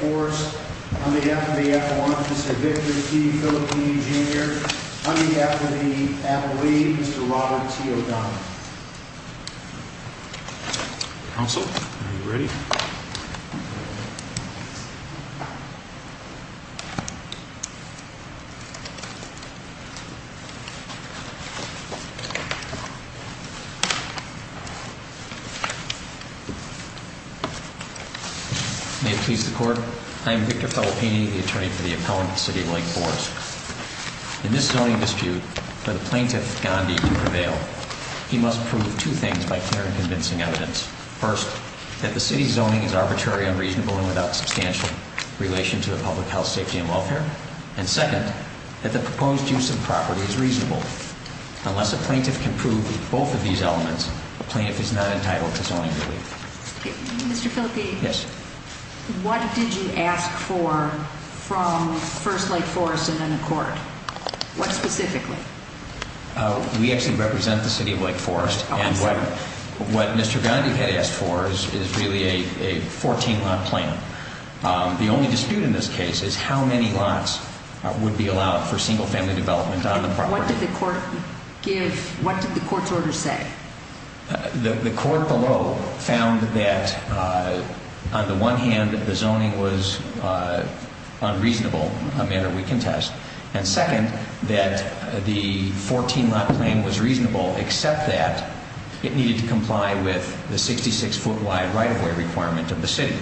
Forest, on behalf of the F1, Mr. Victor P. Filippini, Jr., on behalf of the athlete, Mr. Robert T. O'Donnell. May it please the Court, I am Victor Filippini, the attorney for the appellant to the City of Lake Forest. In this zoning dispute, for the plaintiff, Gandhi, to prevail, he must prove two things by clear and convincing evidence. First, that the City's zoning is arbitrary, unreasonable, and without substantial relation to the public health, safety, and welfare. And second, that the proposed use of property is reasonable. Unless a plaintiff can prove both of these elements, the plaintiff is not entitled to zoning relief. Mr. Filippini, what did you ask for from first Lake Forest and then the Court? What specifically? We actually represent the City of Lake Forest, and what Mr. Gandhi had asked for is really a 14-lot plan. The only dispute in this case is how many lots would be allowed for single-family development on the property. What did the Court's order say? The Court below found that, on the one hand, the zoning was unreasonable, a matter we can test. And second, that the 14-lot plan was reasonable, except that it needed to comply with the 66-foot wide right-of-way requirement of the City.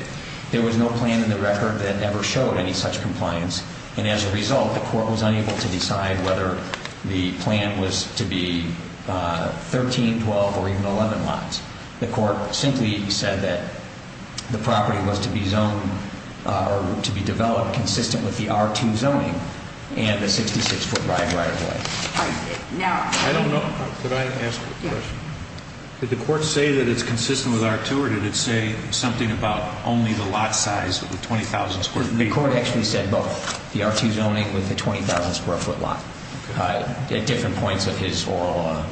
There was no plan in the record that ever showed any such compliance. And as a result, the Court was unable to decide whether the plan was to be 13, 12, or even 11 lots. The Court simply said that the property was to be developed consistent with the R2 zoning and the 66-foot wide right-of-way. Did the Court say that it's consistent with R2, or did it say something about only the lot size of the 20,000 square feet? The Court actually said both, the R2 zoning with the 20,000 square foot lot, at different points of his oral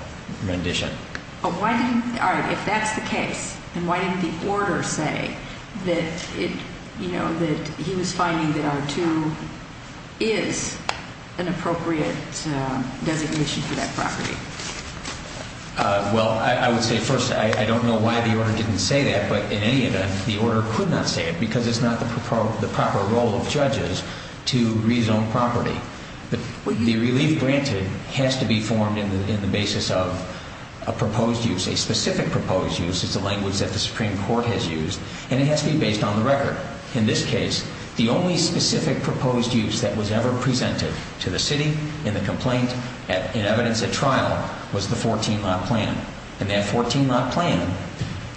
rendition. All right, if that's the case, then why didn't the order say that he was finding that R2 is an appropriate designation for that property? Well, I would say first, I don't know why the order didn't say that, but in any event, the order could not say it, because it's not the proper role of judges to rezone property. The relief granted has to be formed in the basis of a proposed use. A specific proposed use is the language that the Supreme Court has used, and it has to be based on the record. In this case, the only specific proposed use that was ever presented to the city in the complaint, in evidence at trial, was the 14-lot plan. And that 14-lot plan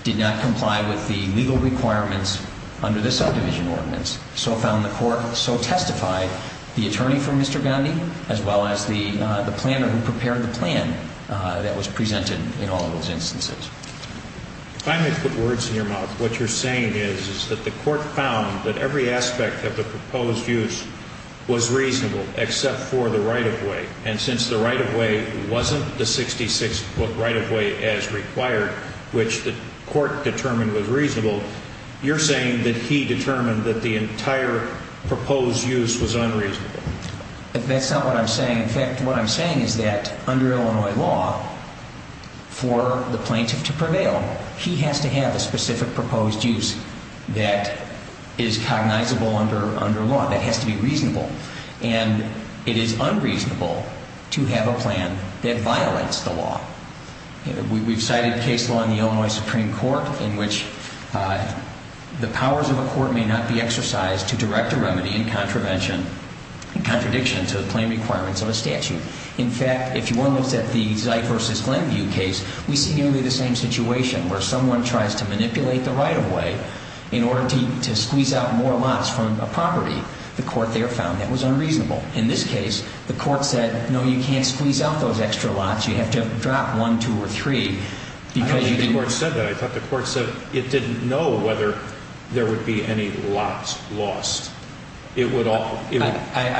did not comply with the legal requirements under the subdivision ordinance. So found the Court, so testified the attorney for Mr. Gandhi, as well as the planner who prepared the plan that was presented in all of those instances. If I may put words in your mouth, what you're saying is that the Court found that every aspect of the proposed use was reasonable, except for the right-of-way. And since the right-of-way wasn't the 66-foot right-of-way as required, which the Court determined was reasonable, you're saying that he determined that the entire proposed use was unreasonable. That's not what I'm saying. In fact, what I'm saying is that under Illinois law, for the plaintiff to prevail, he has to have a specific proposed use that is cognizable under law, that has to be reasonable. And it is unreasonable to have a plan that violates the law. We've cited case law in the Illinois Supreme Court in which the powers of a court may not be exercised to direct a remedy in contradiction to the claim requirements of a statute. In fact, if one looks at the Zeit v. Glenview case, we see nearly the same situation, where someone tries to manipulate the right-of-way in order to squeeze out more lots from a property. The Court there found that was unreasonable. In this case, the Court said, no, you can't squeeze out those extra lots. You have to drop one, two, or three. I don't think the Court said that. I thought the Court said it didn't know whether there would be any lots lost. I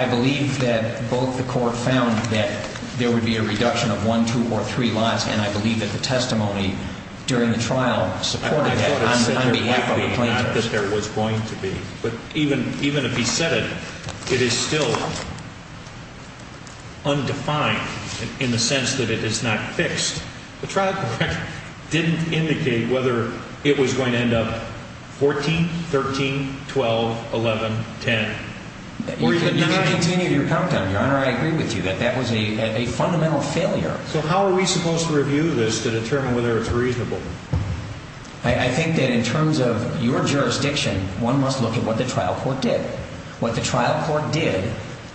believe that both the Court found that there would be a reduction of one, two, or three lots, and I believe that the testimony during the trial supported that on behalf of the plaintiffs. I thought it said directly, not that there was going to be. But even if he said it, it is still undefined in the sense that it is not fixed. The trial record didn't indicate whether it was going to end up 14, 13, 12, 11, 10, or even 9. You can continue your countdown, Your Honor. I agree with you that that was a fundamental failure. So how are we supposed to review this to determine whether it's reasonable? I think that in terms of your jurisdiction, one must look at what the trial court did. What the trial court did,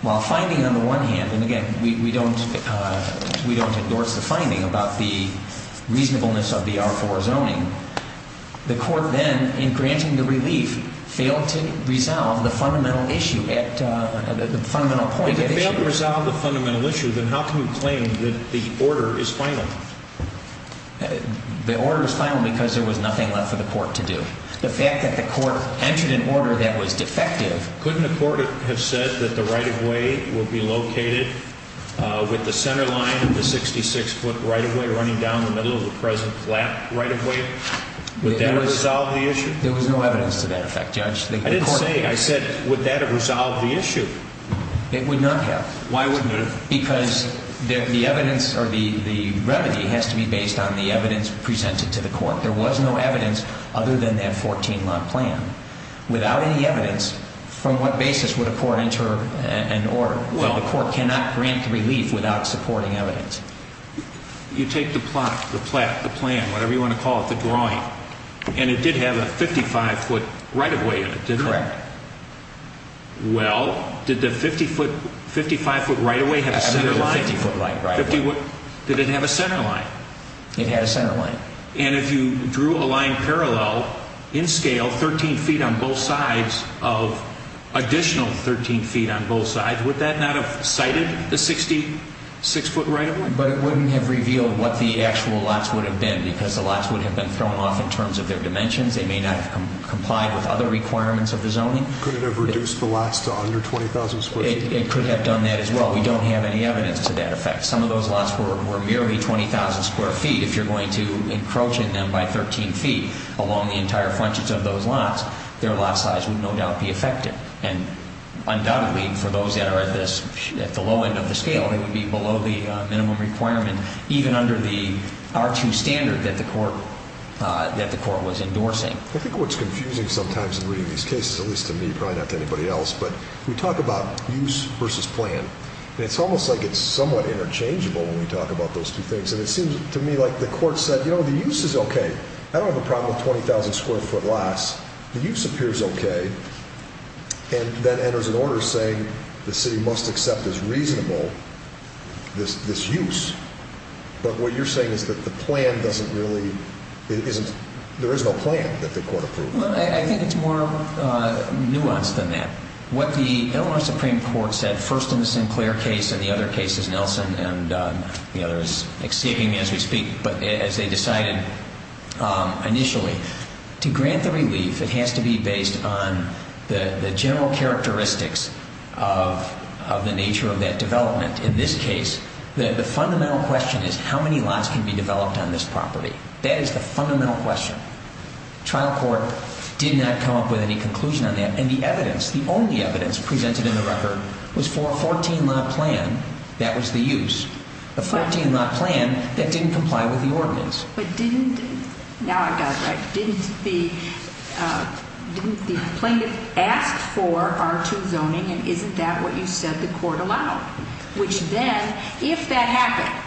while finding on the one hand, and again, we don't endorse the finding about the reasonableness of the R-4 zoning, the Court then, in granting the relief, failed to resolve the fundamental point at issue. If it failed to resolve the fundamental issue, then how can you claim that the order is final? The order is final because there was nothing left for the Court to do. The fact that the Court entered an order that was defective. Couldn't the Court have said that the right-of-way would be located with the center line of the 66-foot right-of-way running down the middle of the present right-of-way? Would that have resolved the issue? There was no evidence to that effect, Judge. I didn't say it. I said, would that have resolved the issue? It would not have. Why wouldn't it have? Because the evidence or the remedy has to be based on the evidence presented to the Court. There was no evidence other than that 14-month plan. Without any evidence, from what basis would a Court enter an order? The Court cannot grant relief without supporting evidence. You take the plot, the plan, whatever you want to call it, the drawing, and it did have a 55-foot right-of-way in it, didn't it? Correct. Well, did the 55-foot right-of-way have a center line? It had a 50-foot right-of-way. Did it have a center line? It had a center line. And if you drew a line parallel, in scale, 13 feet on both sides of additional 13 feet on both sides, would that not have cited the 66-foot right-of-way? But it wouldn't have revealed what the actual lots would have been because the lots would have been thrown off in terms of their dimensions. They may not have complied with other requirements of the zoning. Could it have reduced the lots to under 20,000 square feet? It could have done that as well. We don't have any evidence of that effect. Some of those lots were merely 20,000 square feet. If you're going to encroach in them by 13 feet along the entire frontage of those lots, their lot size would no doubt be affected. And undoubtedly, for those that are at the low end of the scale, they would be below the minimum requirement, even under the R2 standard that the court was endorsing. I think what's confusing sometimes in reading these cases, at least to me, probably not to anybody else, but we talk about use versus plan, and it's almost like it's somewhat interchangeable when we talk about those two things. And it seems to me like the court said, you know, the use is okay. I don't have a problem with 20,000 square foot lots. The use appears okay. And then enters an order saying the city must accept as reasonable this use. But what you're saying is that the plan doesn't really, there is no plan that the court approved. Well, I think it's more nuanced than that. What the Illinois Supreme Court said first in the Sinclair case and the other cases, Nelson and the others, escaping as we speak, but as they decided initially, to grant the relief, it has to be based on the general characteristics of the nature of that development. In this case, the fundamental question is how many lots can be developed on this property. That is the fundamental question. Trial court did not come up with any conclusion on that. And the evidence, the only evidence presented in the record was for a 14-lot plan that was the use. A 14-lot plan that didn't comply with the ordinance. But didn't, now I've got it right, didn't the plaintiff ask for R2 zoning and isn't that what you said the court allowed? Which then, if that happened,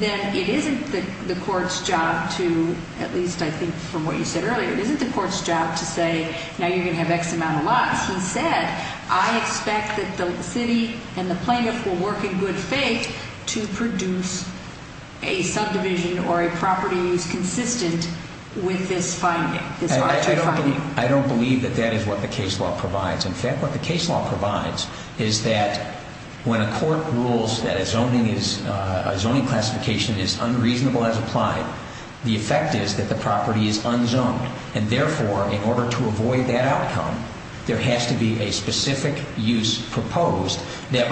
then it isn't the court's job to, at least I think from what you said earlier, it isn't the court's job to say now you're going to have X amount of lots. Because, as he said, I expect that the city and the plaintiff will work in good faith to produce a subdivision or a property that is consistent with this finding, this R2 finding. I don't believe that that is what the case law provides. In fact, what the case law provides is that when a court rules that a zoning classification is unreasonable as applied, the effect is that the property is unzoned. And therefore, in order to avoid that outcome, there has to be a specific use proposed that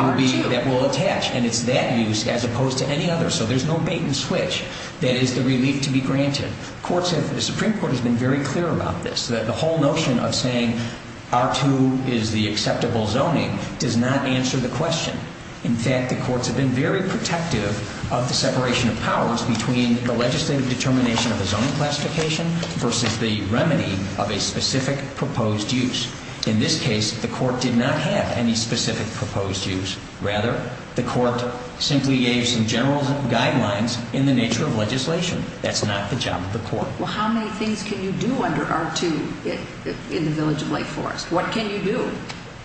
will attach. And it's that use as opposed to any other. So there's no bait and switch that is the relief to be granted. The Supreme Court has been very clear about this. The whole notion of saying R2 is the acceptable zoning does not answer the question. In fact, the courts have been very protective of the separation of powers between the legislative determination of a zoning classification versus the remedy of a specific proposed use. In this case, the court did not have any specific proposed use. Rather, the court simply gave some general guidelines in the nature of legislation. That's not the job of the court. Well, how many things can you do under R2 in the Village of Lake Forest? What can you do?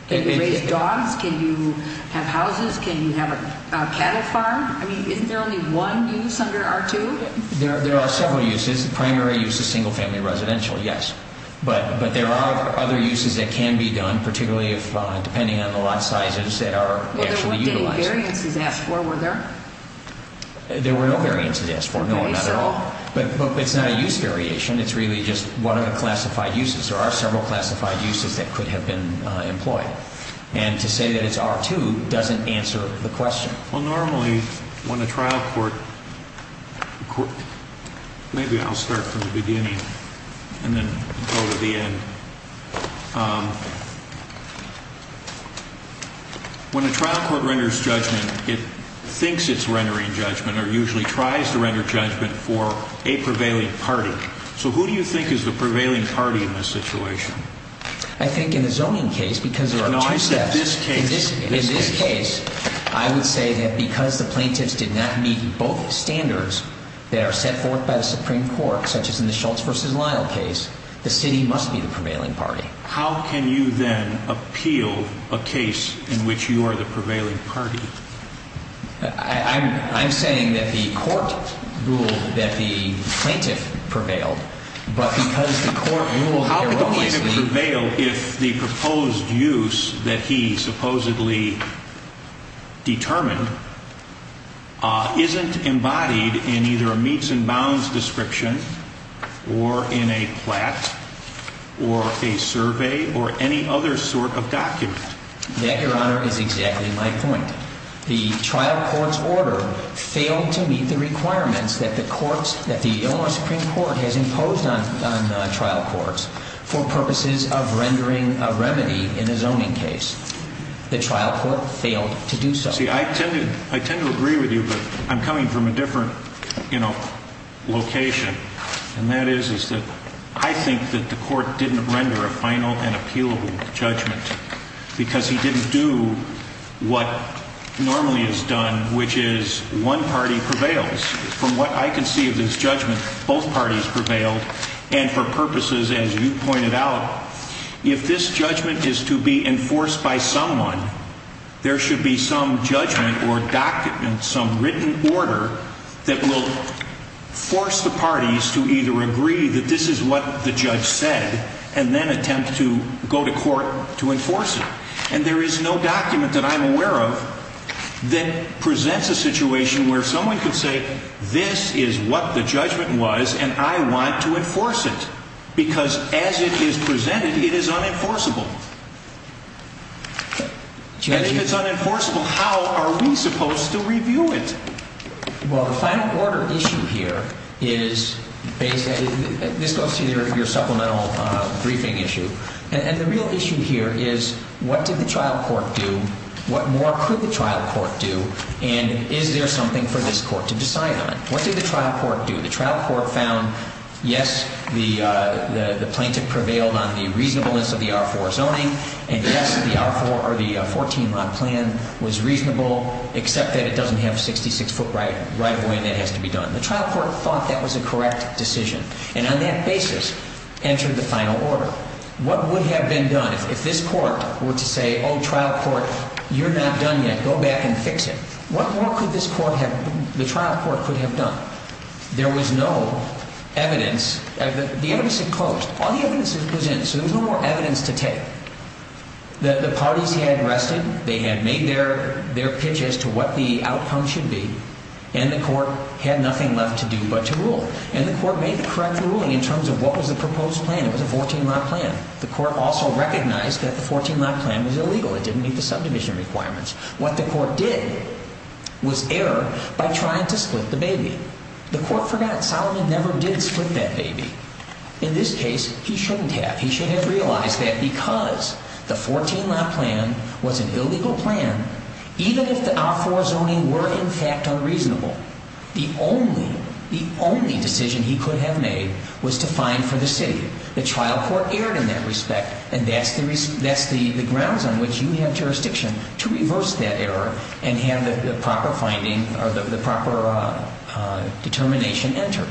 Can you raise dogs? Can you have houses? Can you have a cattle farm? I mean, isn't there only one use under R2? There are several uses. The primary use is single-family residential, yes. But there are other uses that can be done, particularly depending on the lot sizes that are actually utilized. Well, there weren't any variances asked for, were there? There were no variances asked for, no, not at all. But it's not a use variation. It's really just one of the classified uses. There are several classified uses that could have been employed. And to say that it's R2 doesn't answer the question. Well, normally when a trial court, maybe I'll start from the beginning and then go to the end. When a trial court renders judgment, it thinks it's rendering judgment or usually tries to render judgment for a prevailing party. So who do you think is the prevailing party in this situation? I think in the zoning case, because there are two steps. No, I said this case. In this case, I would say that because the plaintiffs did not meet both standards that are set forth by the Supreme Court, such as in the Schultz v. Lyle case, the city must be the prevailing party. How can you then appeal a case in which you are the prevailing party? I'm saying that the court ruled that the plaintiff prevailed, but because the court ruled erroneously. The plaintiff will prevail if the proposed use that he supposedly determined isn't embodied in either a meets and bounds description, or in a plat, or a survey, or any other sort of document. That, Your Honor, is exactly my point. The trial court's order failed to meet the requirements that the Supreme Court has imposed on trial courts for purposes of rendering a remedy in a zoning case. The trial court failed to do so. See, I tend to agree with you, but I'm coming from a different location. And that is that I think that the court didn't render a final and appealable judgment because he didn't do what normally is done, which is one party prevails. From what I can see of this judgment, both parties prevailed, and for purposes, as you pointed out, if this judgment is to be enforced by someone, there should be some judgment or document, some written order, that will force the parties to either agree that this is what the judge said, and then attempt to go to court to enforce it. And there is no document that I'm aware of that presents a situation where someone could say, this is what the judgment was, and I want to enforce it. Because as it is presented, it is unenforceable. And if it's unenforceable, how are we supposed to review it? Well, the final order issue here is basically, this goes to your supplemental briefing issue, and the real issue here is what did the trial court do, what more could the trial court do, and is there something for this court to decide on? What did the trial court do? The trial court found, yes, the plaintiff prevailed on the reasonableness of the R-4 zoning, and yes, the R-4 or the 14-lot plan was reasonable, except that it doesn't have a 66-foot right of way, and that has to be done. The trial court thought that was a correct decision, and on that basis, entered the final order. So what would have been done if this court were to say, oh, trial court, you're not done yet, go back and fix it. What more could this court have, the trial court could have done? There was no evidence, the evidence had closed. All the evidence was in, so there was no more evidence to take. The parties had rested, they had made their pitch as to what the outcome should be, and the court had nothing left to do but to rule. And the court made the correct ruling in terms of what was the proposed plan. It was a 14-lot plan. The court also recognized that the 14-lot plan was illegal. It didn't meet the subdivision requirements. What the court did was error by trying to split the baby. The court forgot Solomon never did split that baby. In this case, he shouldn't have. He should have realized that because the 14-lot plan was an illegal plan, even if the R-4 zoning were, in fact, unreasonable, the only decision he could have made was to fine for the city. The trial court erred in that respect, and that's the grounds on which you have jurisdiction to reverse that error and have the proper finding or the proper determination enter.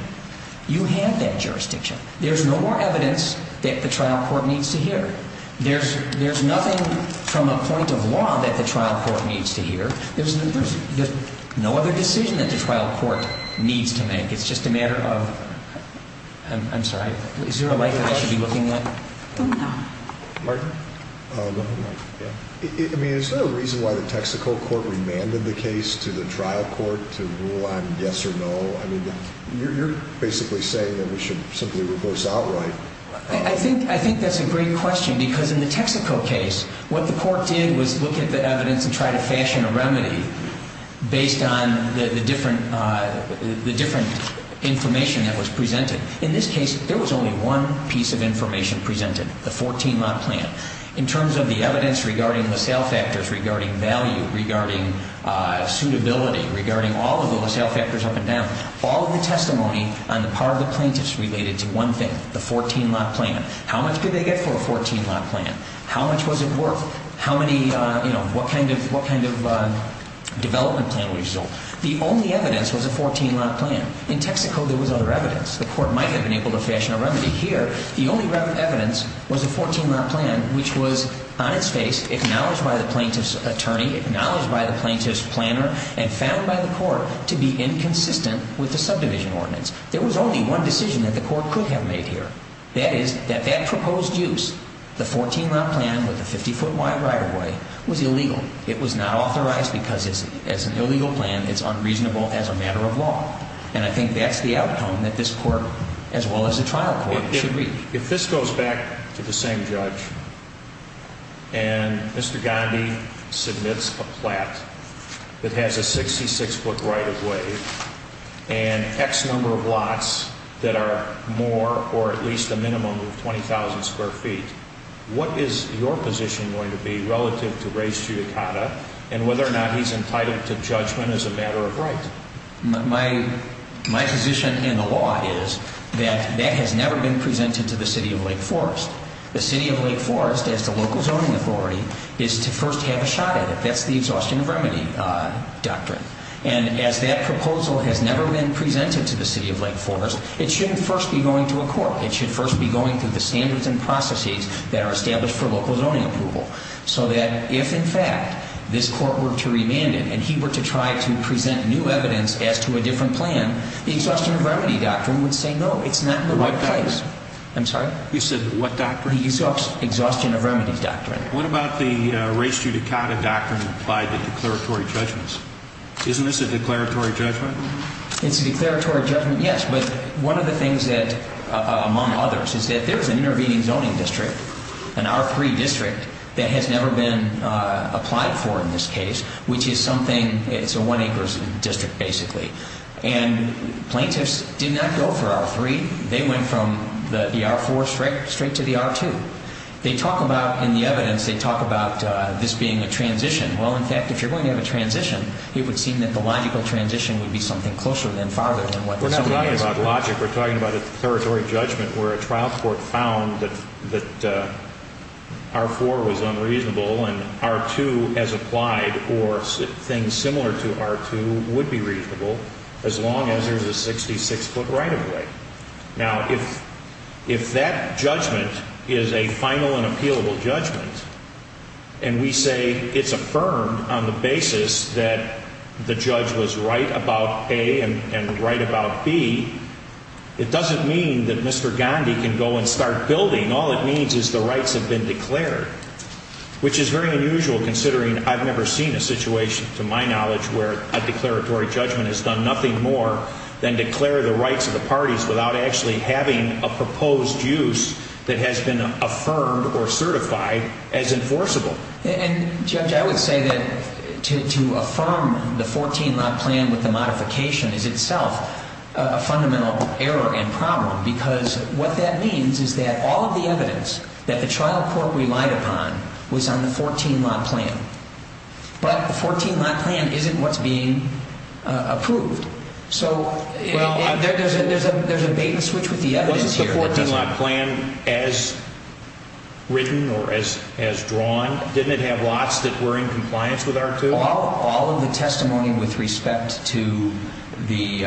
You have that jurisdiction. There's no more evidence that the trial court needs to hear. There's nothing from a point of law that the trial court needs to hear. There's no other decision that the trial court needs to make. It's just a matter of, I'm sorry, is there a light that I should be looking at? No. Martin? I mean, is there a reason why the Texaco court remanded the case to the trial court to rule on yes or no? I mean, you're basically saying that we should simply repose outright. I think that's a great question because in the Texaco case, what the court did was look at the evidence and try to fashion a remedy based on the different information that was presented. In this case, there was only one piece of information presented, the 14 lot plan. In terms of the evidence regarding the sale factors, regarding value, regarding suitability, regarding all of the sale factors up and down, all of the testimony on the part of the plaintiffs related to one thing, the 14 lot plan. How much could they get for a 14 lot plan? How much was it worth? What kind of development plan would result? The only evidence was a 14 lot plan. In Texaco, there was other evidence. The court might have been able to fashion a remedy. Here, the only evidence was a 14 lot plan, which was on its face, acknowledged by the plaintiff's attorney, acknowledged by the plaintiff's planner, and found by the court to be inconsistent with the subdivision ordinance. There was only one decision that the court could have made here. That is that that proposed use, the 14 lot plan with the 50-foot wide right-of-way, was illegal. It was not authorized because, as an illegal plan, it's unreasonable as a matter of law. And I think that's the outcome that this court, as well as the trial court, should reach. If this goes back to the same judge, and Mr. Gandhi submits a plat that has a 66-foot right-of-way and X number of lots that are more or at least a minimum of 20,000 square feet, what is your position going to be relative to Ray Ciudicata and whether or not he's entitled to judgment as a matter of right? My position in the law is that that has never been presented to the City of Lake Forest. The City of Lake Forest, as the local zoning authority, is to first have a shot at it. That's the exhaustion of remedy doctrine. And as that proposal has never been presented to the City of Lake Forest, it shouldn't first be going to a court. It should first be going through the standards and processes that are established for local zoning approval so that if, in fact, this court were to remand it and he were to try to present new evidence as to a different plan, the exhaustion of remedy doctrine would say no, it's not in the right place. What doctrine? I'm sorry? You said what doctrine? The exhaustion of remedy doctrine. What about the Ray Ciudicata doctrine applied to declaratory judgments? Isn't this a declaratory judgment? It's a declaratory judgment, yes. But one of the things that, among others, is that there's an intervening zoning district, an R3 district that has never been applied for in this case, which is something, it's a one-acre district basically. And plaintiffs did not go for R3. They went from the R4 straight to the R2. They talk about in the evidence, they talk about this being a transition. Well, in fact, if you're going to have a transition, it would seem that the logical transition would be something closer than farther than what this is. We're not talking about logic. We're talking about a declaratory judgment where a trial court found that R4 was unreasonable and R2 as applied or things similar to R2 would be reasonable as long as there's a 66-foot right-of-way. Now, if that judgment is a final and appealable judgment, and we say it's affirmed on the basis that the judge was right about A and right about B, it doesn't mean that Mr. Gandhi can go and start building. All it means is the rights have been declared, which is very unusual considering I've never seen a situation, to my knowledge, where a declaratory judgment has done nothing more than declare the rights of the parties without actually having a proposed use that has been affirmed or certified as enforceable. And, Judge, I would say that to affirm the 14-lot plan with the modification is itself a fundamental error and problem because what that means is that all of the evidence that the trial court relied upon was on the 14-lot plan. But the 14-lot plan isn't what's being approved. So there's a bait-and-switch with the evidence here. Wasn't the 14-lot plan as written or as drawn? Didn't it have lots that were in compliance with R2? All of the testimony with respect to the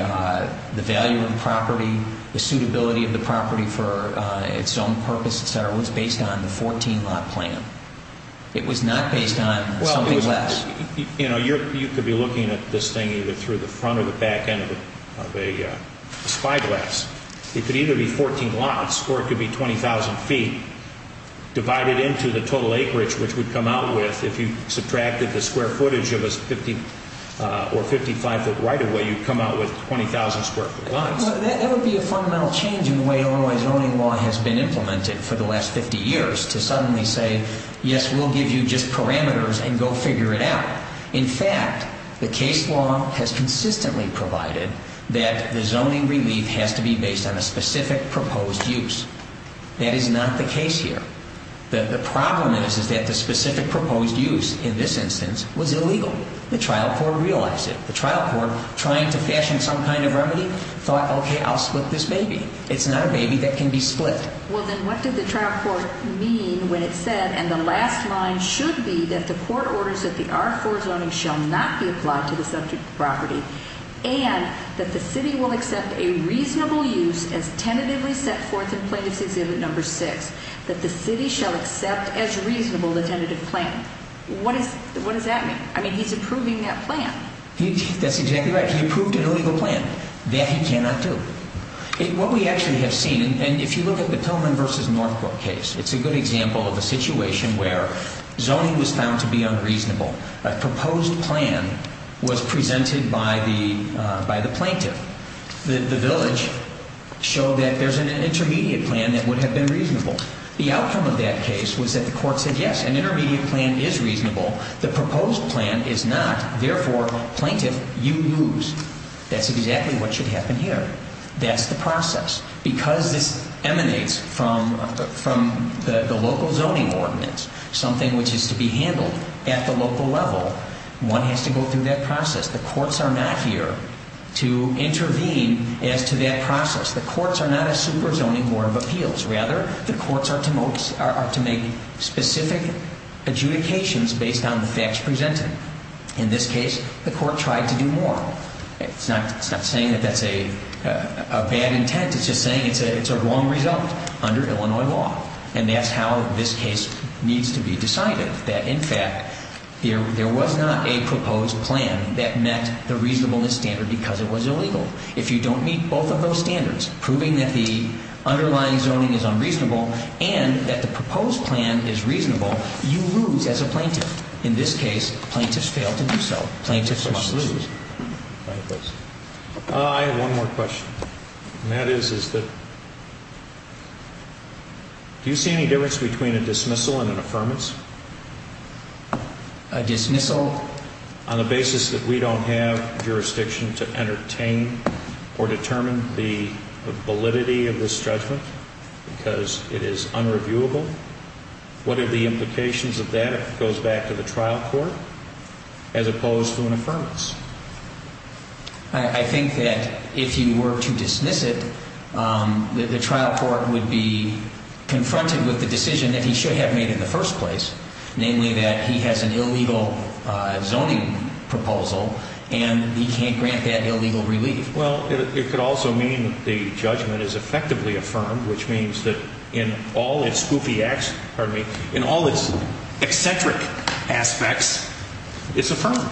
value of the property, the suitability of the property for its own purpose, et cetera, was based on the 14-lot plan. It was not based on something less. Well, you know, you could be looking at this thing either through the front or the back end of a spyglass. It could either be 14 lots or it could be 20,000 feet divided into the total acreage, which would come out with, if you subtracted the square footage of a 50- or 55-foot right-of-way, you'd come out with 20,000 square foot lots. That would be a fundamental change in the way owner's owning law has been implemented for the last 50 years to suddenly say, yes, we'll give you just parameters and go figure it out. In fact, the case law has consistently provided that the zoning relief has to be based on a specific proposed use. That is not the case here. The problem is that the specific proposed use in this instance was illegal. The trial court realized it. The trial court, trying to fashion some kind of remedy, thought, okay, I'll split this baby. It's not a baby that can be split. Well, then what did the trial court mean when it said, and the last line should be, that the court orders that the R-4 zoning shall not be applied to the subject property and that the city will accept a reasonable use as tentatively set forth in Plaintiff's Exhibit No. 6, that the city shall accept as reasonable the tentative plan. What does that mean? I mean, he's approving that plan. That's exactly right. He approved an illegal plan. That he cannot do. What we actually have seen, and if you look at the Tillman v. Northcourt case, it's a good example of a situation where zoning was found to be unreasonable. A proposed plan was presented by the plaintiff. The village showed that there's an intermediate plan that would have been reasonable. The outcome of that case was that the court said, yes, an intermediate plan is reasonable. The proposed plan is not. Therefore, plaintiff, you lose. That's exactly what should happen here. That's the process. Because this emanates from the local zoning ordinance, something which is to be handled at the local level, one has to go through that process. The courts are not here to intervene as to that process. The courts are not a super zoning board of appeals. Rather, the courts are to make specific adjudications based on the facts presented. In this case, the court tried to do more. It's not saying that that's a bad intent. It's just saying it's a wrong result under Illinois law. And that's how this case needs to be decided, that, in fact, there was not a proposed plan that met the reasonableness standard because it was illegal. If you don't meet both of those standards, proving that the underlying zoning is unreasonable and that the proposed plan is reasonable, you lose as a plaintiff. In this case, plaintiffs failed to do so. Plaintiffs must lose. I have one more question. And that is, do you see any difference between a dismissal and an affirmance? A dismissal? On the basis that we don't have jurisdiction to entertain or determine the validity of this judgment because it is unreviewable, what are the implications of that if it goes back to the trial court as opposed to an affirmance? I think that if you were to dismiss it, the trial court would be confronted with the decision that he should have made in the first place, namely that he has an illegal zoning proposal and he can't grant that illegal relief. Well, it could also mean that the judgment is effectively affirmed, which means that in all its spoofy acts, pardon me, in all its eccentric aspects, it's affirmed.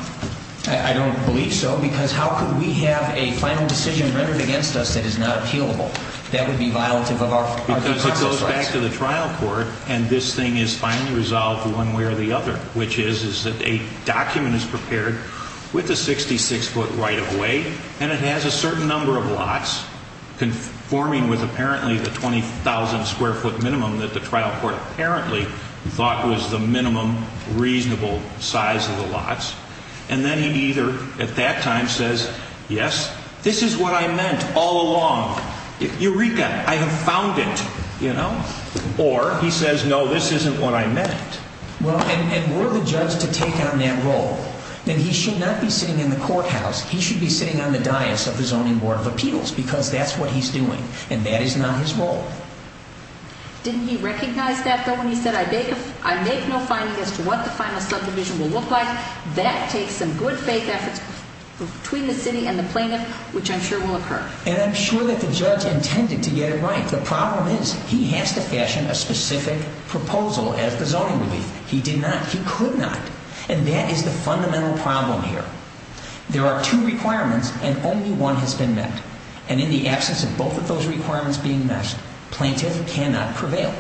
I don't believe so because how could we have a final decision rendered against us that is not appealable? That would be violative of our department's rights. Because it goes back to the trial court and this thing is finally resolved one way or the other, which is that a document is prepared with a 66-foot right-of-way and it has a certain number of lots conforming with apparently the 20,000-square-foot minimum that the trial court apparently thought was the minimum reasonable size of the lots. And then he either at that time says, yes, this is what I meant all along. Eureka, I have found it, you know. Or he says, no, this isn't what I meant. Well, and were the judge to take on that role, then he should not be sitting in the courthouse. He should be sitting on the dais of the Zoning Board of Appeals because that's what he's doing, and that is not his role. Didn't he recognize that, though, when he said, I make no finding as to what the final subdivision will look like? That takes some good faith efforts between the city and the plaintiff, which I'm sure will occur. And I'm sure that the judge intended to get it right. The problem is he has to fashion a specific proposal as the zoning relief. He did not. He could not. And that is the fundamental problem here. There are two requirements, and only one has been met. And in the absence of both of those requirements being met, plaintiff cannot prevail.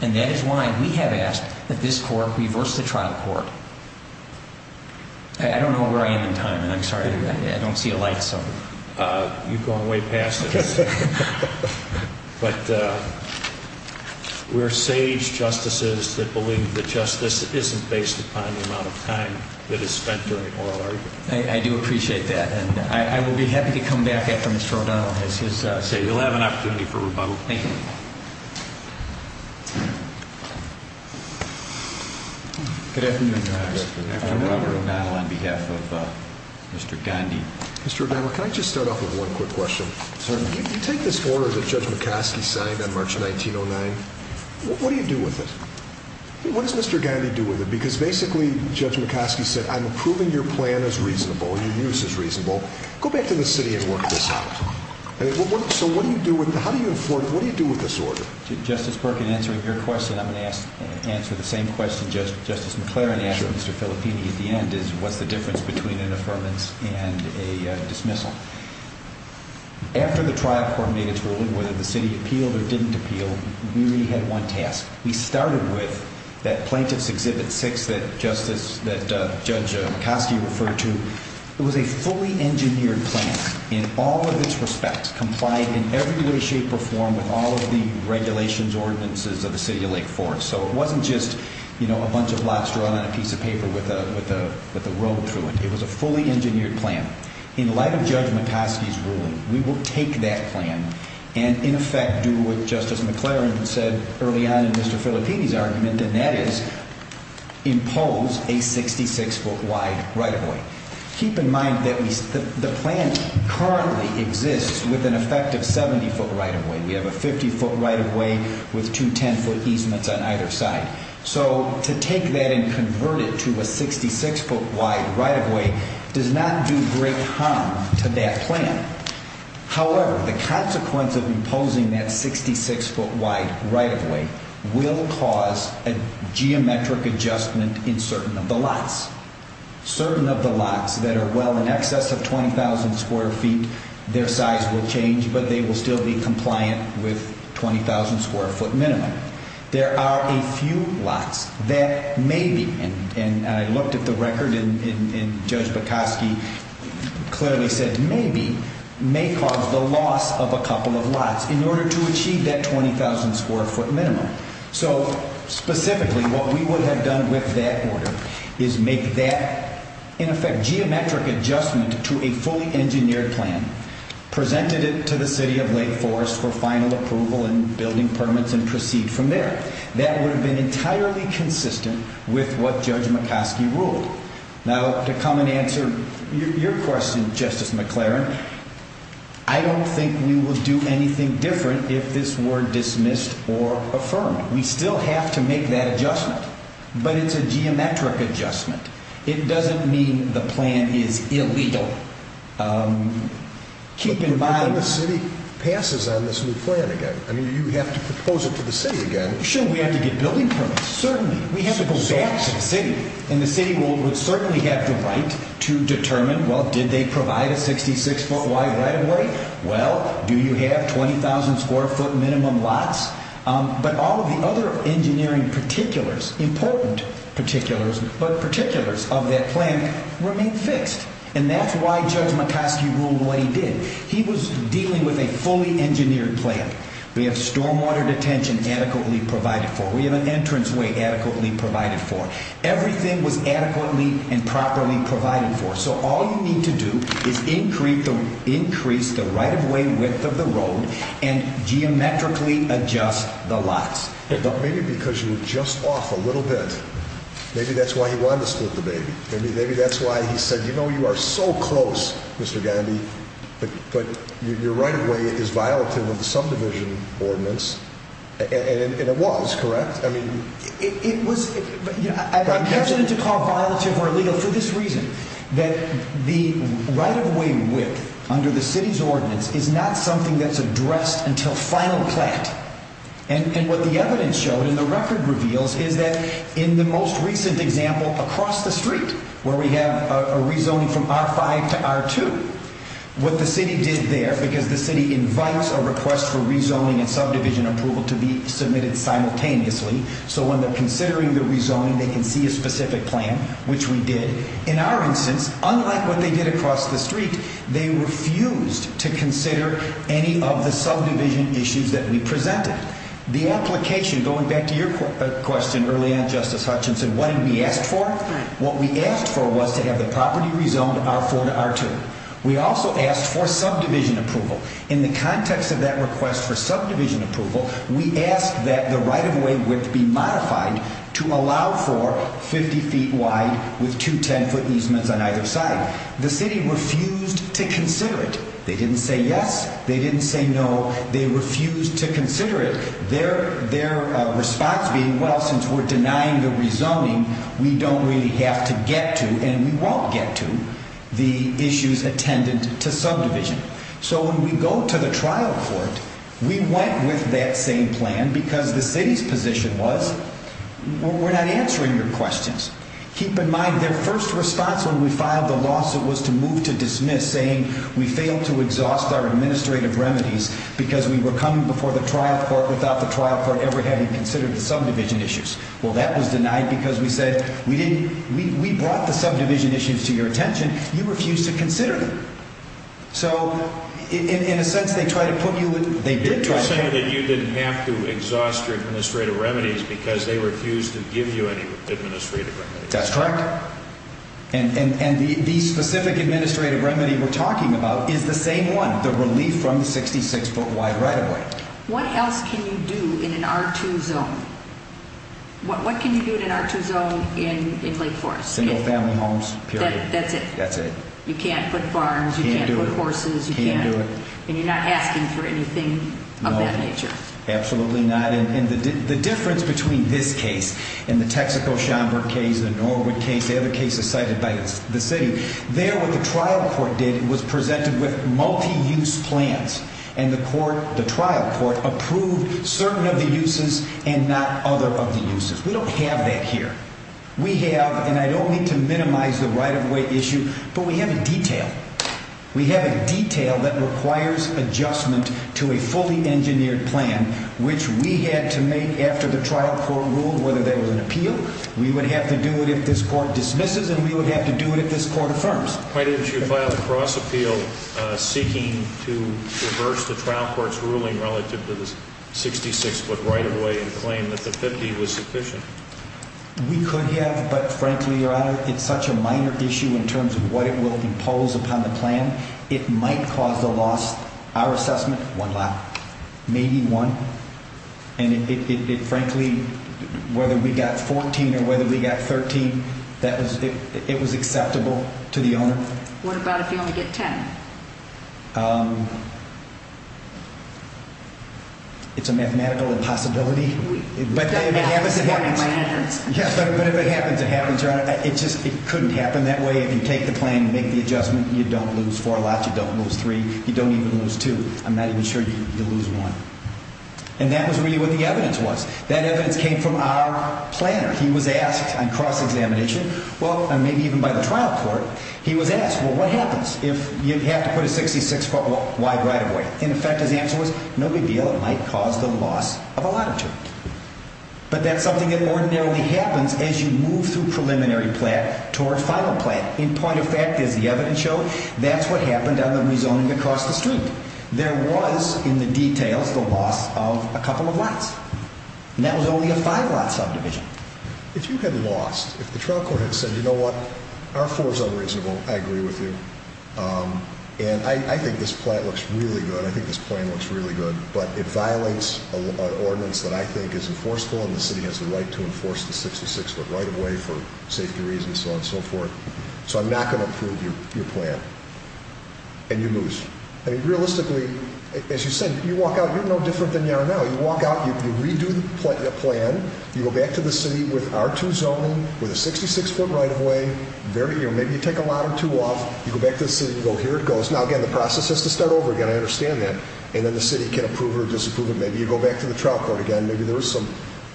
And that is why we have asked that this court reverse the trial court. I don't know where I am in time, and I'm sorry, I don't see a light, so. You've gone way past it. But we're sage justices that believe that justice isn't based upon the amount of time that is spent during oral argument. I do appreciate that, and I will be happy to come back after Mr. O'Donnell has his. You'll have an opportunity for rebuttal. Thank you. Good afternoon, Your Honor. Good afternoon. Robert O'Donnell on behalf of Mr. Gandhi. Mr. O'Donnell, can I just start off with one quick question? Certainly. You take this order that Judge McCoskey signed on March 1909. What do you do with it? What does Mr. Gandhi do with it? Because basically, Judge McCoskey said, I'm approving your plan as reasonable, your use as reasonable. Go back to the city and work this out. So what do you do with it? How do you afford it? What do you do with this order? Justice Perkin, answering your question, I'm going to answer the same question Justice McClaren asked Mr. Filippini at the end, which is, what's the difference between an affirmance and a dismissal? After the trial court made its ruling, whether the city appealed or didn't appeal, we had one task. We started with that Plaintiff's Exhibit 6 that Judge McCoskey referred to. It was a fully engineered plan in all of its respects, complied in every way, shape, or form with all of the regulations, ordinances of the city of Lake Forest. So it wasn't just a bunch of lobster on a piece of paper with a road through it. It was a fully engineered plan. In light of Judge McCoskey's ruling, we will take that plan and, in effect, do what Justice McClaren said early on in Mr. Filippini's argument, and that is impose a 66-foot wide right-of-way. Keep in mind that the plan currently exists with an effective 70-foot right-of-way. We have a 50-foot right-of-way with two 10-foot easements on either side. So to take that and convert it to a 66-foot wide right-of-way does not do great harm to that plan. However, the consequence of imposing that 66-foot wide right-of-way will cause a geometric adjustment in certain of the lots. Certain of the lots that are well in excess of 20,000 square feet, their size will change, but they will still be compliant with 20,000 square foot minimum. There are a few lots that maybe, and I looked at the record and Judge McCoskey clearly said maybe, may cause the loss of a couple of lots in order to achieve that 20,000 square foot minimum. So specifically, what we would have done with that order is make that, in effect, geometric adjustment to a fully engineered plan, presented it to the City of Lake Forest for final approval and building permits and proceed from there. That would have been entirely consistent with what Judge McCoskey ruled. Now, to come and answer your question, Justice McLaren, I don't think we will do anything different if this were dismissed or affirmed. We still have to make that adjustment, but it's a geometric adjustment. It doesn't mean the plan is illegal. Keep in mind— But what if the City passes on this new plan again? I mean, you have to propose it to the City again. Sure, we have to get building permits, certainly. We have to go back to the City, and the City would certainly have the right to determine, well, did they provide a 66-foot wide right-of-way? Well, do you have 20,000 square foot minimum lots? But all of the other engineering particulars, important particulars, but particulars of that plan remain fixed, and that's why Judge McCoskey ruled what he did. He was dealing with a fully engineered plan. We have stormwater detention adequately provided for. We have an entranceway adequately provided for. Everything was adequately and properly provided for. So all you need to do is increase the right-of-way width of the road and geometrically adjust the lots. Maybe because you were just off a little bit, maybe that's why he wanted to split the baby. Maybe that's why he said, you know, you are so close, Mr. Gandhi, but your right-of-way is violative of the subdivision ordinance. And it was, correct? It was. I'm hesitant to call it violative or illegal for this reason, that the right-of-way width under the City's ordinance is not something that's addressed until final plan. And what the evidence showed and the record reveals is that in the most recent example across the street where we have a rezoning from R5 to R2, what the City did there, because the City invites a request for rezoning and subdivision approval to be submitted simultaneously, so when they're considering the rezoning, they can see a specific plan, which we did. In our instance, unlike what they did across the street, they refused to consider any of the subdivision issues that we presented. The application, going back to your question early on, Justice Hutchinson, what did we ask for? What we asked for was to have the property rezoned R4 to R2. We also asked for subdivision approval. In the context of that request for subdivision approval, we asked that the right-of-way width be modified to allow for 50 feet wide with two 10-foot easements on either side. The City refused to consider it. They didn't say yes. They didn't say no. They refused to consider it. Their response being, well, since we're denying the rezoning, we don't really have to get to, and we won't get to, the issues attendant to subdivision. So when we go to the trial court, we went with that same plan because the City's position was, we're not answering your questions. Keep in mind, their first response when we filed the lawsuit was to move to dismiss, saying we failed to exhaust our administrative remedies because we were coming before the trial court without the trial court ever having considered the subdivision issues. Well, that was denied because we said we brought the subdivision issues to your attention. You refused to consider them. So in a sense, they did try to put you in. You're saying that you didn't have to exhaust your administrative remedies because they refused to give you any administrative remedies. That's correct. And the specific administrative remedy we're talking about is the same one, the relief from the 66-foot wide right-of-way. What else can you do in an R2 zone? What can you do in an R2 zone in Lake Forest? No family homes, period. That's it? That's it. You can't put farms. You can't put horses. You can't do it. And you're not asking for anything of that nature. No, absolutely not. And the difference between this case and the Texaco-Schoenberg case, the Norwood case, the other cases cited by the City, there what the trial court did was presented with multi-use plans. And the trial court approved certain of the uses and not other of the uses. We don't have that here. We have, and I don't mean to minimize the right-of-way issue, but we have a detail. We have a detail that requires adjustment to a fully engineered plan, which we had to make after the trial court ruled whether there was an appeal. We would have to do it if this court dismisses, and we would have to do it if this court affirms. Why didn't you file a cross-appeal seeking to reverse the trial court's ruling relative to the 66-foot right-of-way and claim that the 50 was sufficient? We could have, but frankly, Your Honor, it's such a minor issue in terms of what it will impose upon the plan. It might cause a loss. Our assessment, one lot, maybe one. And it frankly, whether we got 14 or whether we got 13, it was acceptable to the owner. What about if you only get 10? It's a mathematical impossibility. But if it happens, it happens, Your Honor. It just couldn't happen that way. If you take the plan and make the adjustment, you don't lose four lots, you don't lose three, you don't even lose two. I'm not even sure you lose one. And that was really what the evidence was. That evidence came from our planner. He was asked on cross-examination, well, maybe even by the trial court, he was asked, well, what happens if you have to put a 66-foot wide right-of-way? In effect, his answer was, no big deal, it might cause the loss of a lot or two. But that's something that ordinarily happens as you move through preliminary plan toward final plan. In point of fact, as the evidence showed, that's what happened on the rezoning across the street. There was, in the details, the loss of a couple of lots. And that was only a five-lot subdivision. If you had lost, if the trial court had said, you know what, our four is unreasonable, I agree with you. And I think this plan looks really good. I think this plan looks really good. But it violates an ordinance that I think is enforceable, and the city has the right to enforce the 66-foot right-of-way for safety reasons, so on and so forth. So I'm not going to approve your plan. And you lose. I mean, realistically, as you said, you walk out, you're no different than you are now. You walk out, you redo the plan, you go back to the city with R2 zoning, with a 66-foot right-of-way, maybe you take a lot or two off. You go back to the city and go, here it goes. Now, again, the process has to start over again. I understand that. And then the city can approve or disapprove it. Maybe you go back to the trial court again. Maybe there is some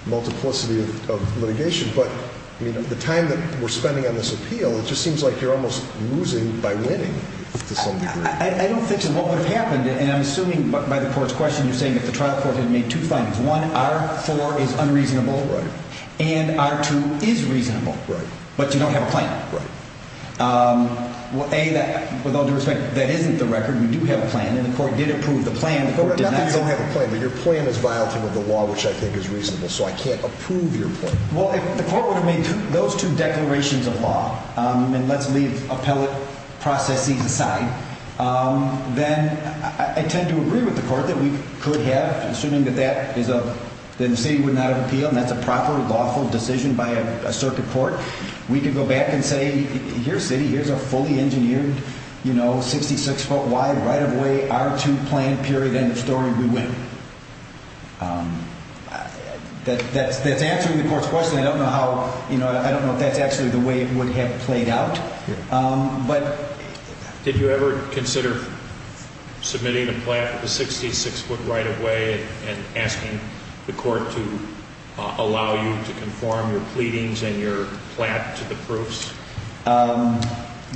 multiplicity of litigation. But, I mean, the time that we're spending on this appeal, it just seems like you're almost losing by winning to some degree. I don't think so. What would have happened, and I'm assuming by the court's question you're saying that the trial court had made two findings. One, R4 is unreasonable. Right. And R2 is reasonable. Right. But you don't have a plan. Right. Well, A, with all due respect, that isn't the record. We do have a plan, and the court did approve the plan. Not that you don't have a plan, but your plan is violating the law, which I think is reasonable, so I can't approve your plan. Well, if the court would have made those two declarations of law, and let's leave appellate processes aside, then I tend to agree with the court that we could have, assuming that the city would not have appealed, and that's a proper, lawful decision by a circuit court. We could go back and say, here, city, here's a fully engineered, you know, 66-foot wide right-of-way R2 plan, period, end of story, we win. That's answering the court's question. I don't know how, you know, I don't know if that's actually the way it would have played out. Yeah.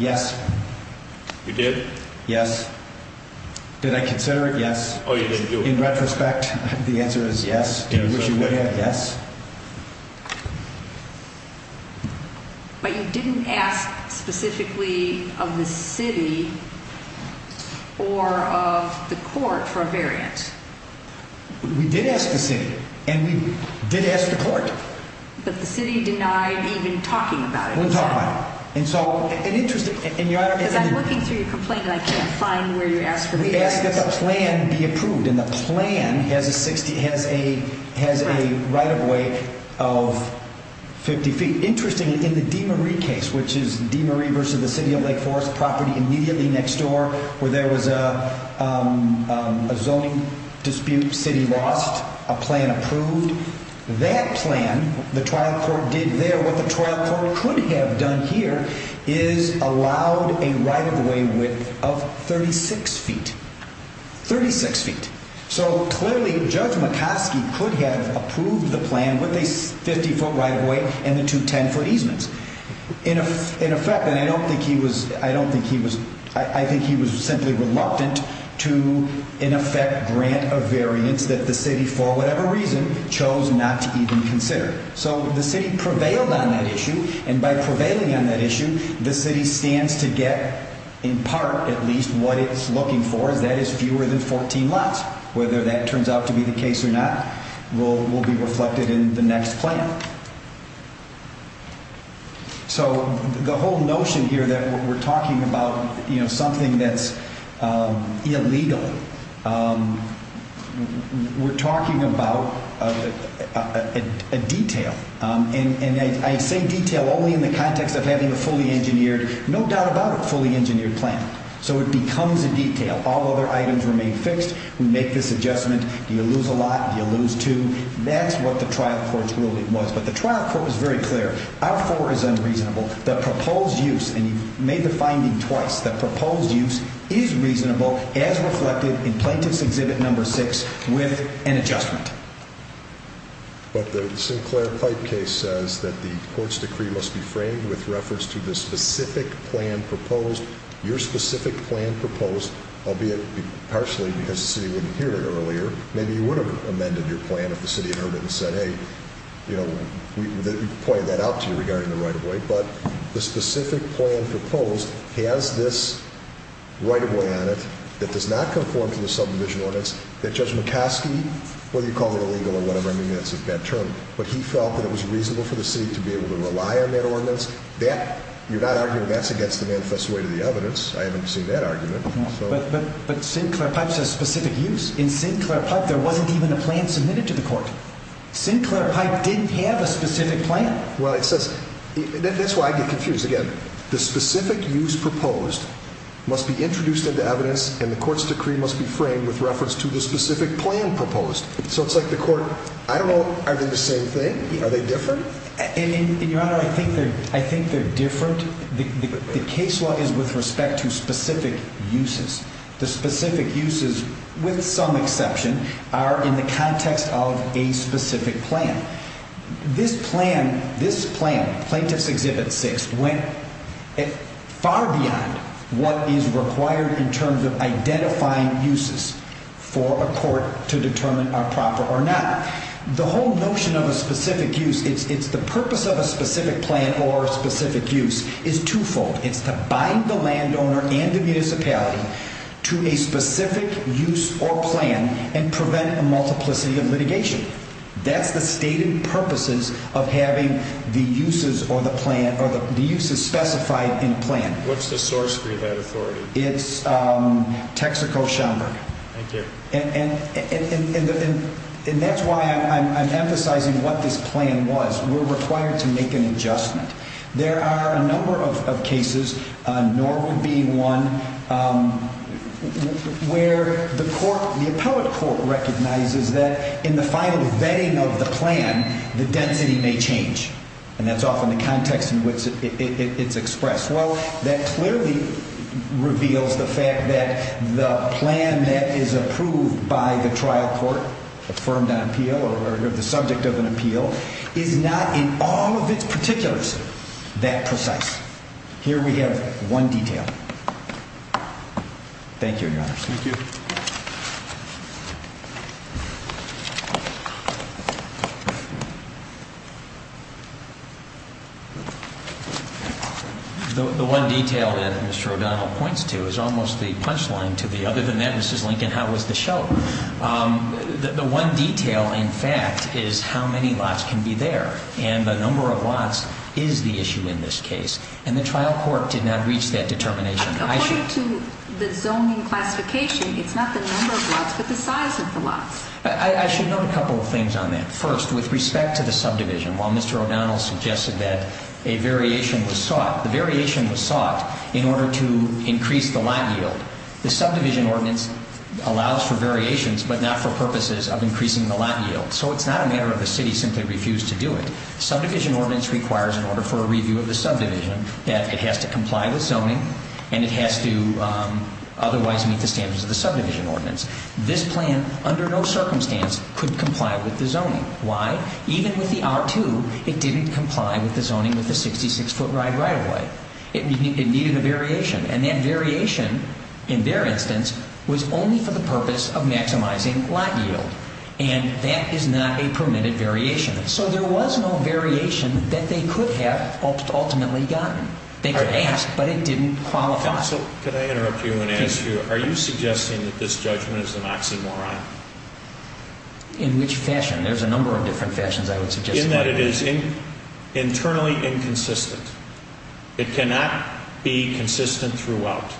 Yes. You did? Yes. Did I consider it? Yes. Oh, you didn't do it. In retrospect, the answer is yes. Did you wish you would have? Yes. But you didn't ask specifically of the city or of the court for a variant. We did ask the city, and we did ask the court. But the city denied even talking about it. Didn't talk about it. Because I'm looking through your complaint, and I can't find where you asked for variance. We asked that the plan be approved, and the plan has a right-of-way of 50 feet. Interestingly, in the DeMarie case, which is DeMarie versus the City of Lake Forest property immediately next door, where there was a zoning dispute, city lost, a plan approved. That plan, the trial court did there, what the trial court could have done here is allowed a right-of-way width of 36 feet. 36 feet. So, clearly, Judge McCoskey could have approved the plan with a 50-foot right-of-way and the two 10-foot easements. In effect, and I don't think he was, I don't think he was, I think he was simply reluctant to, in effect, grant a variance that the city, for whatever reason, chose not to even consider. So, the city prevailed on that issue, and by prevailing on that issue, the city stands to get, in part at least, what it's looking for, and that is fewer than 14 lots. Whether that turns out to be the case or not will be reflected in the next plan. So, the whole notion here that we're talking about, you know, something that's illegal, we're talking about a detail, and I say detail only in the context of having a fully engineered, no doubt about it, fully engineered plan. So, it becomes a detail. All other items remain fixed. We make this adjustment. Do you lose a lot? Do you lose two? That's what the trial court's ruling was. But the trial court was very clear. Our four is unreasonable. The proposed use, and you've made the finding twice, the proposed use is reasonable as reflected in Plaintiff's Exhibit No. 6 with an adjustment. But the Sinclair Pipe case says that the court's decree must be framed with reference to the specific plan proposed, your specific plan proposed, albeit partially because the city wouldn't hear it earlier. Maybe you would have amended your plan if the city had heard it and said, hey, you know, we pointed that out to you regarding the right-of-way. But the specific plan proposed has this right-of-way on it that does not conform to the subdivision ordinance that Judge McCoskey, whether you call it illegal or whatever, I mean, that's a bad term, but he felt that it was reasonable for the city to be able to rely on that ordinance. You're not arguing that's against the manifest way to the evidence. I haven't seen that argument. But Sinclair Pipe says specific use. In Sinclair Pipe, there wasn't even a plan submitted to the court. Sinclair Pipe didn't have a specific plan. Well, it says that's why I get confused. Again, the specific use proposed must be introduced into evidence and the court's decree must be framed with reference to the specific plan proposed. So it's like the court. I don't know. Are they the same thing? Are they different? And your Honor, I think they're I think they're different. The case law is with respect to specific uses. The specific uses, with some exception, are in the context of a specific plan. This plan, this plan, Plaintiff's Exhibit 6, went far beyond what is required in terms of identifying uses for a court to determine are proper or not. The whole notion of a specific use, it's the purpose of a specific plan or specific use, is twofold. It's to bind the landowner and the municipality to a specific use or plan and prevent a multiplicity of litigation. That's the stated purposes of having the uses or the plan or the uses specified in a plan. What's the source for that authority? It's Texaco-Schomburg. Thank you. And that's why I'm emphasizing what this plan was. We're required to make an adjustment. There are a number of cases, Norwood being one, where the court, the appellate court recognizes that in the final vetting of the plan, the density may change. And that's often the context in which it's expressed. Well, that clearly reveals the fact that the plan that is approved by the trial court, affirmed on appeal or the subject of an appeal, is not in all of its particulars that precise. Here we have one detail. Thank you, Your Honor. Thank you. The one detail that Mr. O'Donnell points to is almost the punchline to the other than that, Mrs. Lincoln, how was the show? The one detail, in fact, is how many lots can be there. And the number of lots is the issue in this case. And the trial court did not reach that determination. According to the zoning classification, it's not the number of lots but the size of the lots. I should note a couple of things on that. First, with respect to the subdivision, while Mr. O'Donnell suggested that a variation was sought, the variation was sought in order to increase the lot yield. The subdivision ordinance allows for variations but not for purposes of increasing the lot yield. So it's not a matter of the city simply refused to do it. Subdivision ordinance requires, in order for a review of the subdivision, that it has to comply with zoning and it has to otherwise meet the standards of the subdivision ordinance. This plan, under no circumstance, could comply with the zoning. Why? Even with the R2, it didn't comply with the zoning with the 66-foot-wide right-of-way. It needed a variation. And that variation, in their instance, was only for the purpose of maximizing lot yield. And that is not a permitted variation. So there was no variation that they could have ultimately gotten. They could ask, but it didn't qualify. Could I interrupt you and ask you, are you suggesting that this judgment is an oxymoron? In which fashion? There's a number of different fashions I would suggest. In that it is internally inconsistent. It cannot be consistent throughout.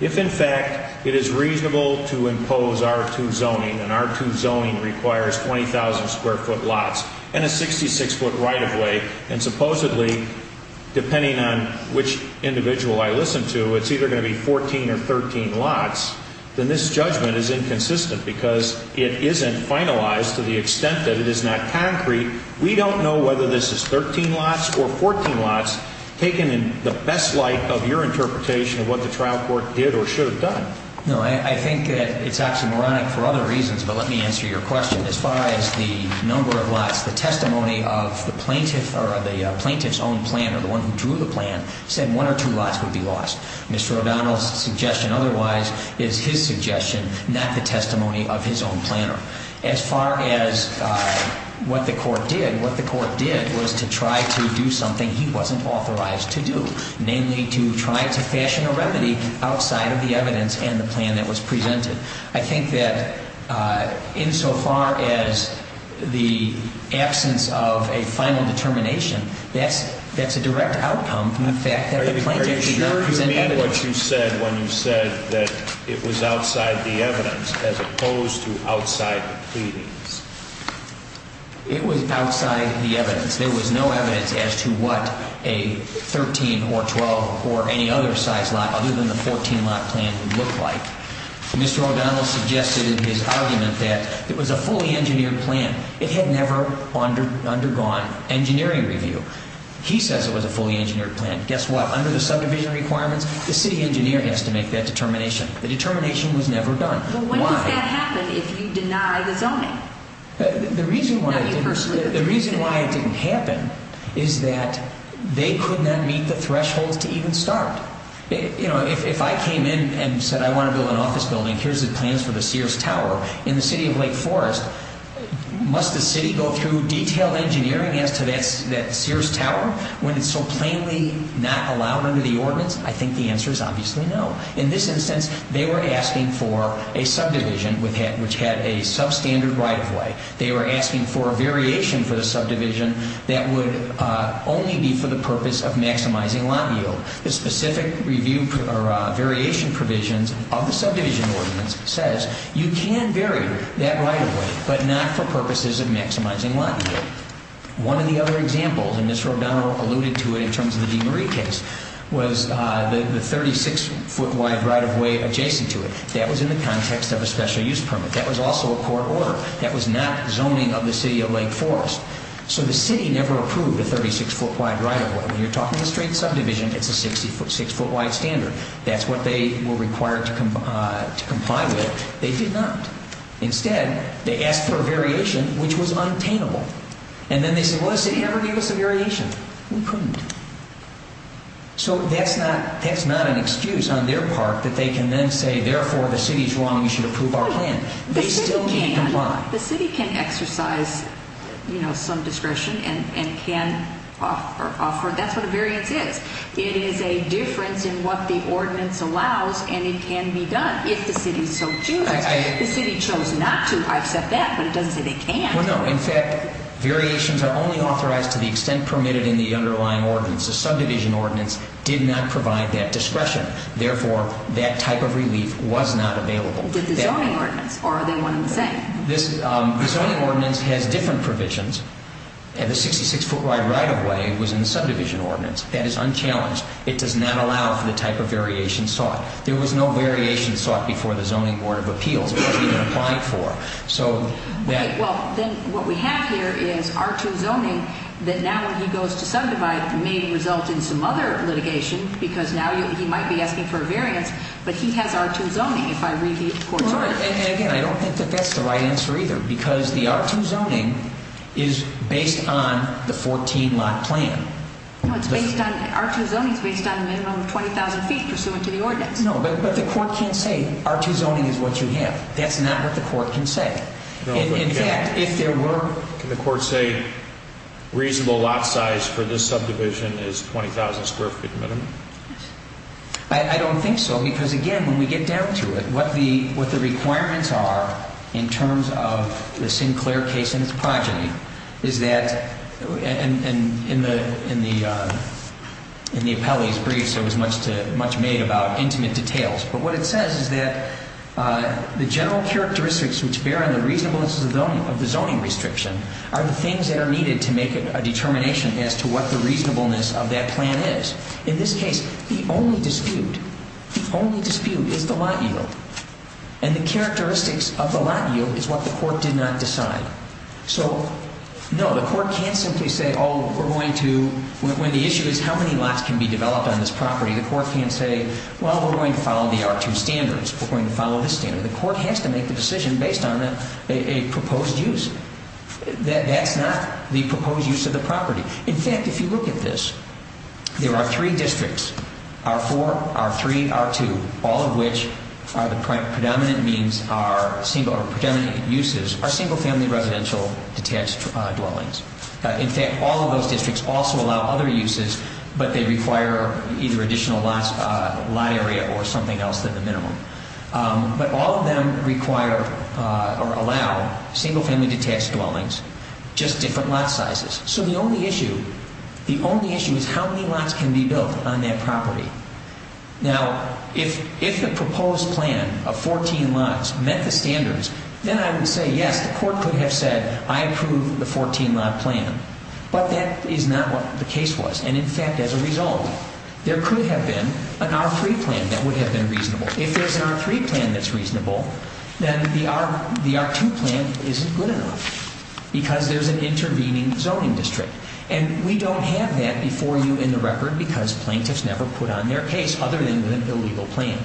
If, in fact, it is reasonable to impose R2 zoning, and R2 zoning requires 20,000 square foot lots and a 66-foot right-of-way, and supposedly, depending on which individual I listen to, it's either going to be 14 or 13 lots, then this judgment is inconsistent because it isn't finalized to the extent that it is not concrete. We don't know whether this is 13 lots or 14 lots, taken in the best light of your interpretation of what the trial court did or should have done. No, I think that it's oxymoronic for other reasons, but let me answer your question. As far as the number of lots, the testimony of the plaintiff or the plaintiff's own planner, the one who drew the plan, said one or two lots would be lost. Mr. O'Donnell's suggestion otherwise is his suggestion, not the testimony of his own planner. As far as what the court did, what the court did was to try to do something he wasn't authorized to do, namely to try to fashion a remedy outside of the evidence and the plan that was presented. I think that insofar as the absence of a final determination, that's a direct outcome from the fact that the plaintiff's words and evidence- Are you very sure you meant what you said when you said that it was outside the evidence as opposed to outside the pleadings? It was outside the evidence. There was no evidence as to what a 13 or 12 or any other size lot, other than the 14 lot plan, would look like. Mr. O'Donnell suggested in his argument that it was a fully engineered plan. It had never undergone engineering review. He says it was a fully engineered plan. Guess what? Under the subdivision requirements, the city engineer has to make that determination. The determination was never done. But when does that happen if you deny the zoning? The reason why it didn't happen is that they could not meet the thresholds to even start. If I came in and said I want to build an office building, here's the plans for the Sears Tower in the city of Lake Forest, must the city go through detailed engineering as to that Sears Tower when it's so plainly not allowed under the ordinance? I think the answer is obviously no. In this instance, they were asking for a subdivision which had a substandard right-of-way. They were asking for a variation for the subdivision that would only be for the purpose of maximizing lot yield. The specific variation provisions of the subdivision ordinance says you can vary that right-of-way, but not for purposes of maximizing lot yield. One of the other examples, and Mr. O'Donnell alluded to it in terms of the DeMarie case, was the 36-foot wide right-of-way adjacent to it. That was in the context of a special use permit. That was also a court order. That was not zoning of the city of Lake Forest. So the city never approved a 36-foot wide right-of-way. When you're talking a straight subdivision, it's a 6-foot wide standard. That's what they were required to comply with. They did not. Instead, they asked for a variation which was untainable. And then they said, well, the city never gave us a variation. We couldn't. So that's not an excuse on their part that they can then say, therefore, the city is wrong. We should approve our plan. They still can't comply. The city can exercise, you know, some discretion and can offer. That's what a variance is. It is a difference in what the ordinance allows, and it can be done if the city so chooses. The city chose not to. I accept that. But it doesn't say they can't. Well, no. In fact, variations are only authorized to the extent permitted in the underlying ordinance. The subdivision ordinance did not provide that discretion. Therefore, that type of relief was not available. Did the zoning ordinance, or are they one and the same? The zoning ordinance has different provisions. The 66-foot wide right-of-way was in the subdivision ordinance. That is unchallenged. It does not allow for the type of variation sought. There was no variation sought before the Zoning Board of Appeals. It wasn't even applied for. Okay. Well, then what we have here is R-2 zoning that now when he goes to subdivide may result in some other litigation because now he might be asking for a variance, but he has R-2 zoning if I read the court's ordinance. Again, I don't think that that's the right answer either because the R-2 zoning is based on the 14-lot plan. No, R-2 zoning is based on a minimum of 20,000 feet pursuant to the ordinance. No, but the court can't say R-2 zoning is what you have. That's not what the court can say. In fact, if there were Can the court say reasonable lot size for this subdivision is 20,000 square feet minimum? I don't think so because, again, when we get down to it, what the requirements are in terms of the Sinclair case and its progeny is that and in the appellee's briefs there was much made about intimate details, but what it says is that the general characteristics which bear on the reasonableness of the zoning restriction are the things that are needed to make a determination as to what the reasonableness of that plan is. In this case, the only dispute is the lot yield, and the characteristics of the lot yield is what the court did not decide. So, no, the court can't simply say, oh, we're going to when the issue is how many lots can be developed on this property, the court can't say, well, we're going to follow the R-2 standards. We're going to follow this standard. The court has to make the decision based on a proposed use. That's not the proposed use of the property. In fact, if you look at this, there are three districts, R-4, R-3, R-2, all of which are the predominant uses are single-family residential detached dwellings. In fact, all of those districts also allow other uses, but they require either additional lot area or something else than the minimum. But all of them require or allow single-family detached dwellings, just different lot sizes. So the only issue, the only issue is how many lots can be built on that property. Now, if the proposed plan of 14 lots met the standards, then I would say, yes, the court could have said, I approve the 14-lot plan. But that is not what the case was. And, in fact, as a result, there could have been an R-3 plan that would have been reasonable. If there's an R-3 plan that's reasonable, then the R-2 plan isn't good enough because there's an intervening zoning district. And we don't have that before you in the record because plaintiffs never put on their case other than with an illegal plan.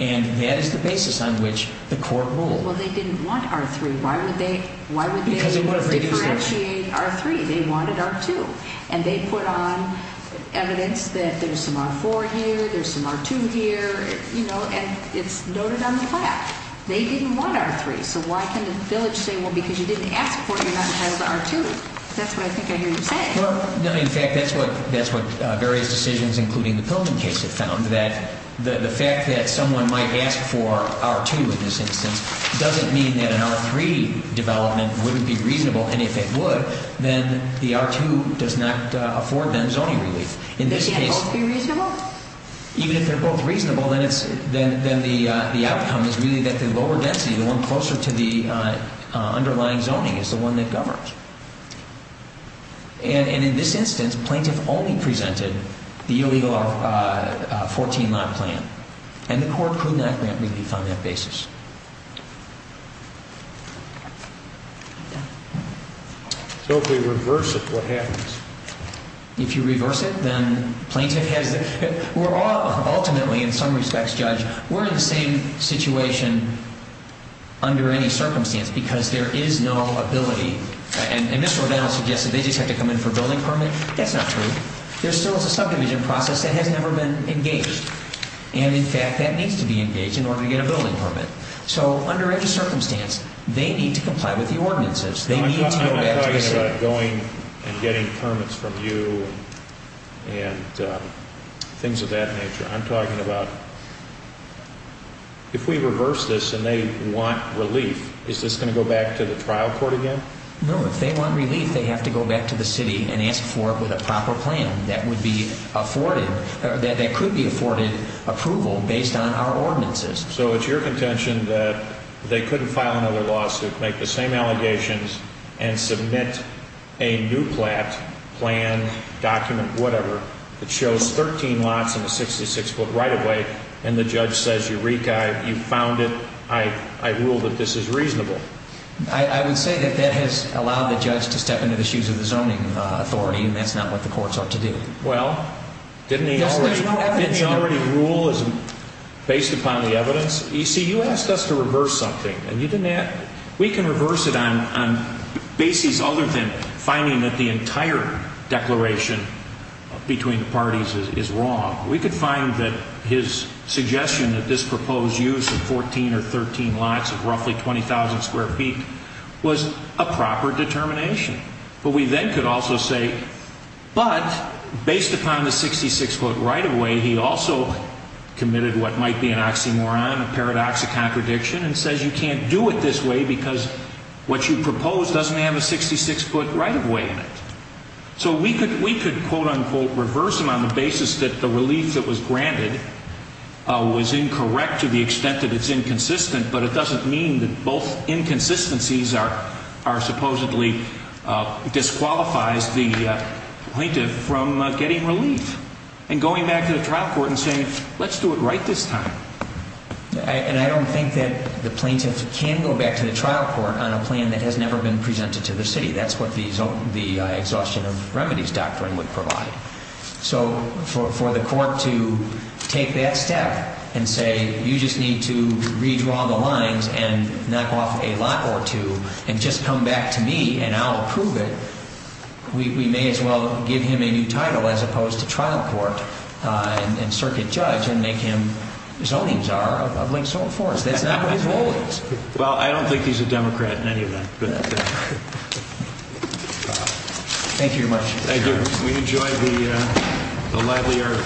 And that is the basis on which the court ruled. Well, they didn't want R-3. Why would they differentiate R-3? They wanted R-2. And they put on evidence that there's some R-4 here, there's some R-2 here, you know, and it's noted on the plaque. They didn't want R-3. So why can't a village say, well, because you didn't ask for it, you're not entitled to R-2? That's what I think I hear you say. Well, in fact, that's what various decisions, including the Pillman case, have found, that the fact that someone might ask for R-2 in this instance doesn't mean that an R-3 development wouldn't be reasonable. And if it would, then the R-2 does not afford them zoning relief. In this case, even if they're both reasonable, then the outcome is really that the lower density, the one closer to the underlying zoning, is the one that governs. And in this instance, plaintiff only presented the illegal 14-lot plan, and the court could not grant relief on that basis. So if they reverse it, what happens? If you reverse it, then plaintiff has the – ultimately, in some respects, Judge, we're in the same situation under any circumstance because there is no ability – and Mr. O'Donnell suggested they just have to come in for a building permit. That's not true. There still is a subdivision process that has never been engaged. And, in fact, that needs to be engaged in order to get a building permit. So under any circumstance, they need to comply with the ordinances. I'm not talking about going and getting permits from you and things of that nature. I'm talking about if we reverse this and they want relief, is this going to go back to the trial court again? No. If they want relief, they have to go back to the city and ask for it with a proper plan that would be afforded – that could be afforded approval based on our ordinances. So it's your contention that they couldn't file another lawsuit, make the same allegations, and submit a new plan, document, whatever, that shows 13 lots and a 66-foot right-of-way, and the judge says, Eureka, you found it. I rule that this is reasonable. I would say that that has allowed the judge to step into the shoes of the zoning authority, and that's not what the courts ought to do. You see, you asked us to reverse something, and you didn't ask – we can reverse it on bases other than finding that the entire declaration between the parties is wrong. We could find that his suggestion that this proposed use of 14 or 13 lots of roughly 20,000 square feet was a proper determination. But we then could also say, but based upon the 66-foot right-of-way, he also committed what might be an oxymoron, a paradox, a contradiction, and says you can't do it this way because what you propose doesn't have a 66-foot right-of-way in it. So we could – we could quote-unquote reverse them on the basis that the relief that was granted was incorrect to the extent that it's inconsistent, but it doesn't mean that both inconsistencies are – are supposedly – disqualifies the plaintiff from getting relief. And going back to the trial court and saying let's do it right this time. And I don't think that the plaintiff can go back to the trial court on a plan that has never been presented to the city. That's what the exhaustion of remedies doctrine would provide. So for the court to take that step and say you just need to redraw the lines and knock off a lot or two and just come back to me and I'll approve it, we may as well give him a new title as opposed to trial court and circuit judge and make him zoning czar of Link-Soled Forest. That's not what his role is. Well, I don't think he's a Democrat in any of that. Thank you very much. Thank you. We enjoyed the lively argument.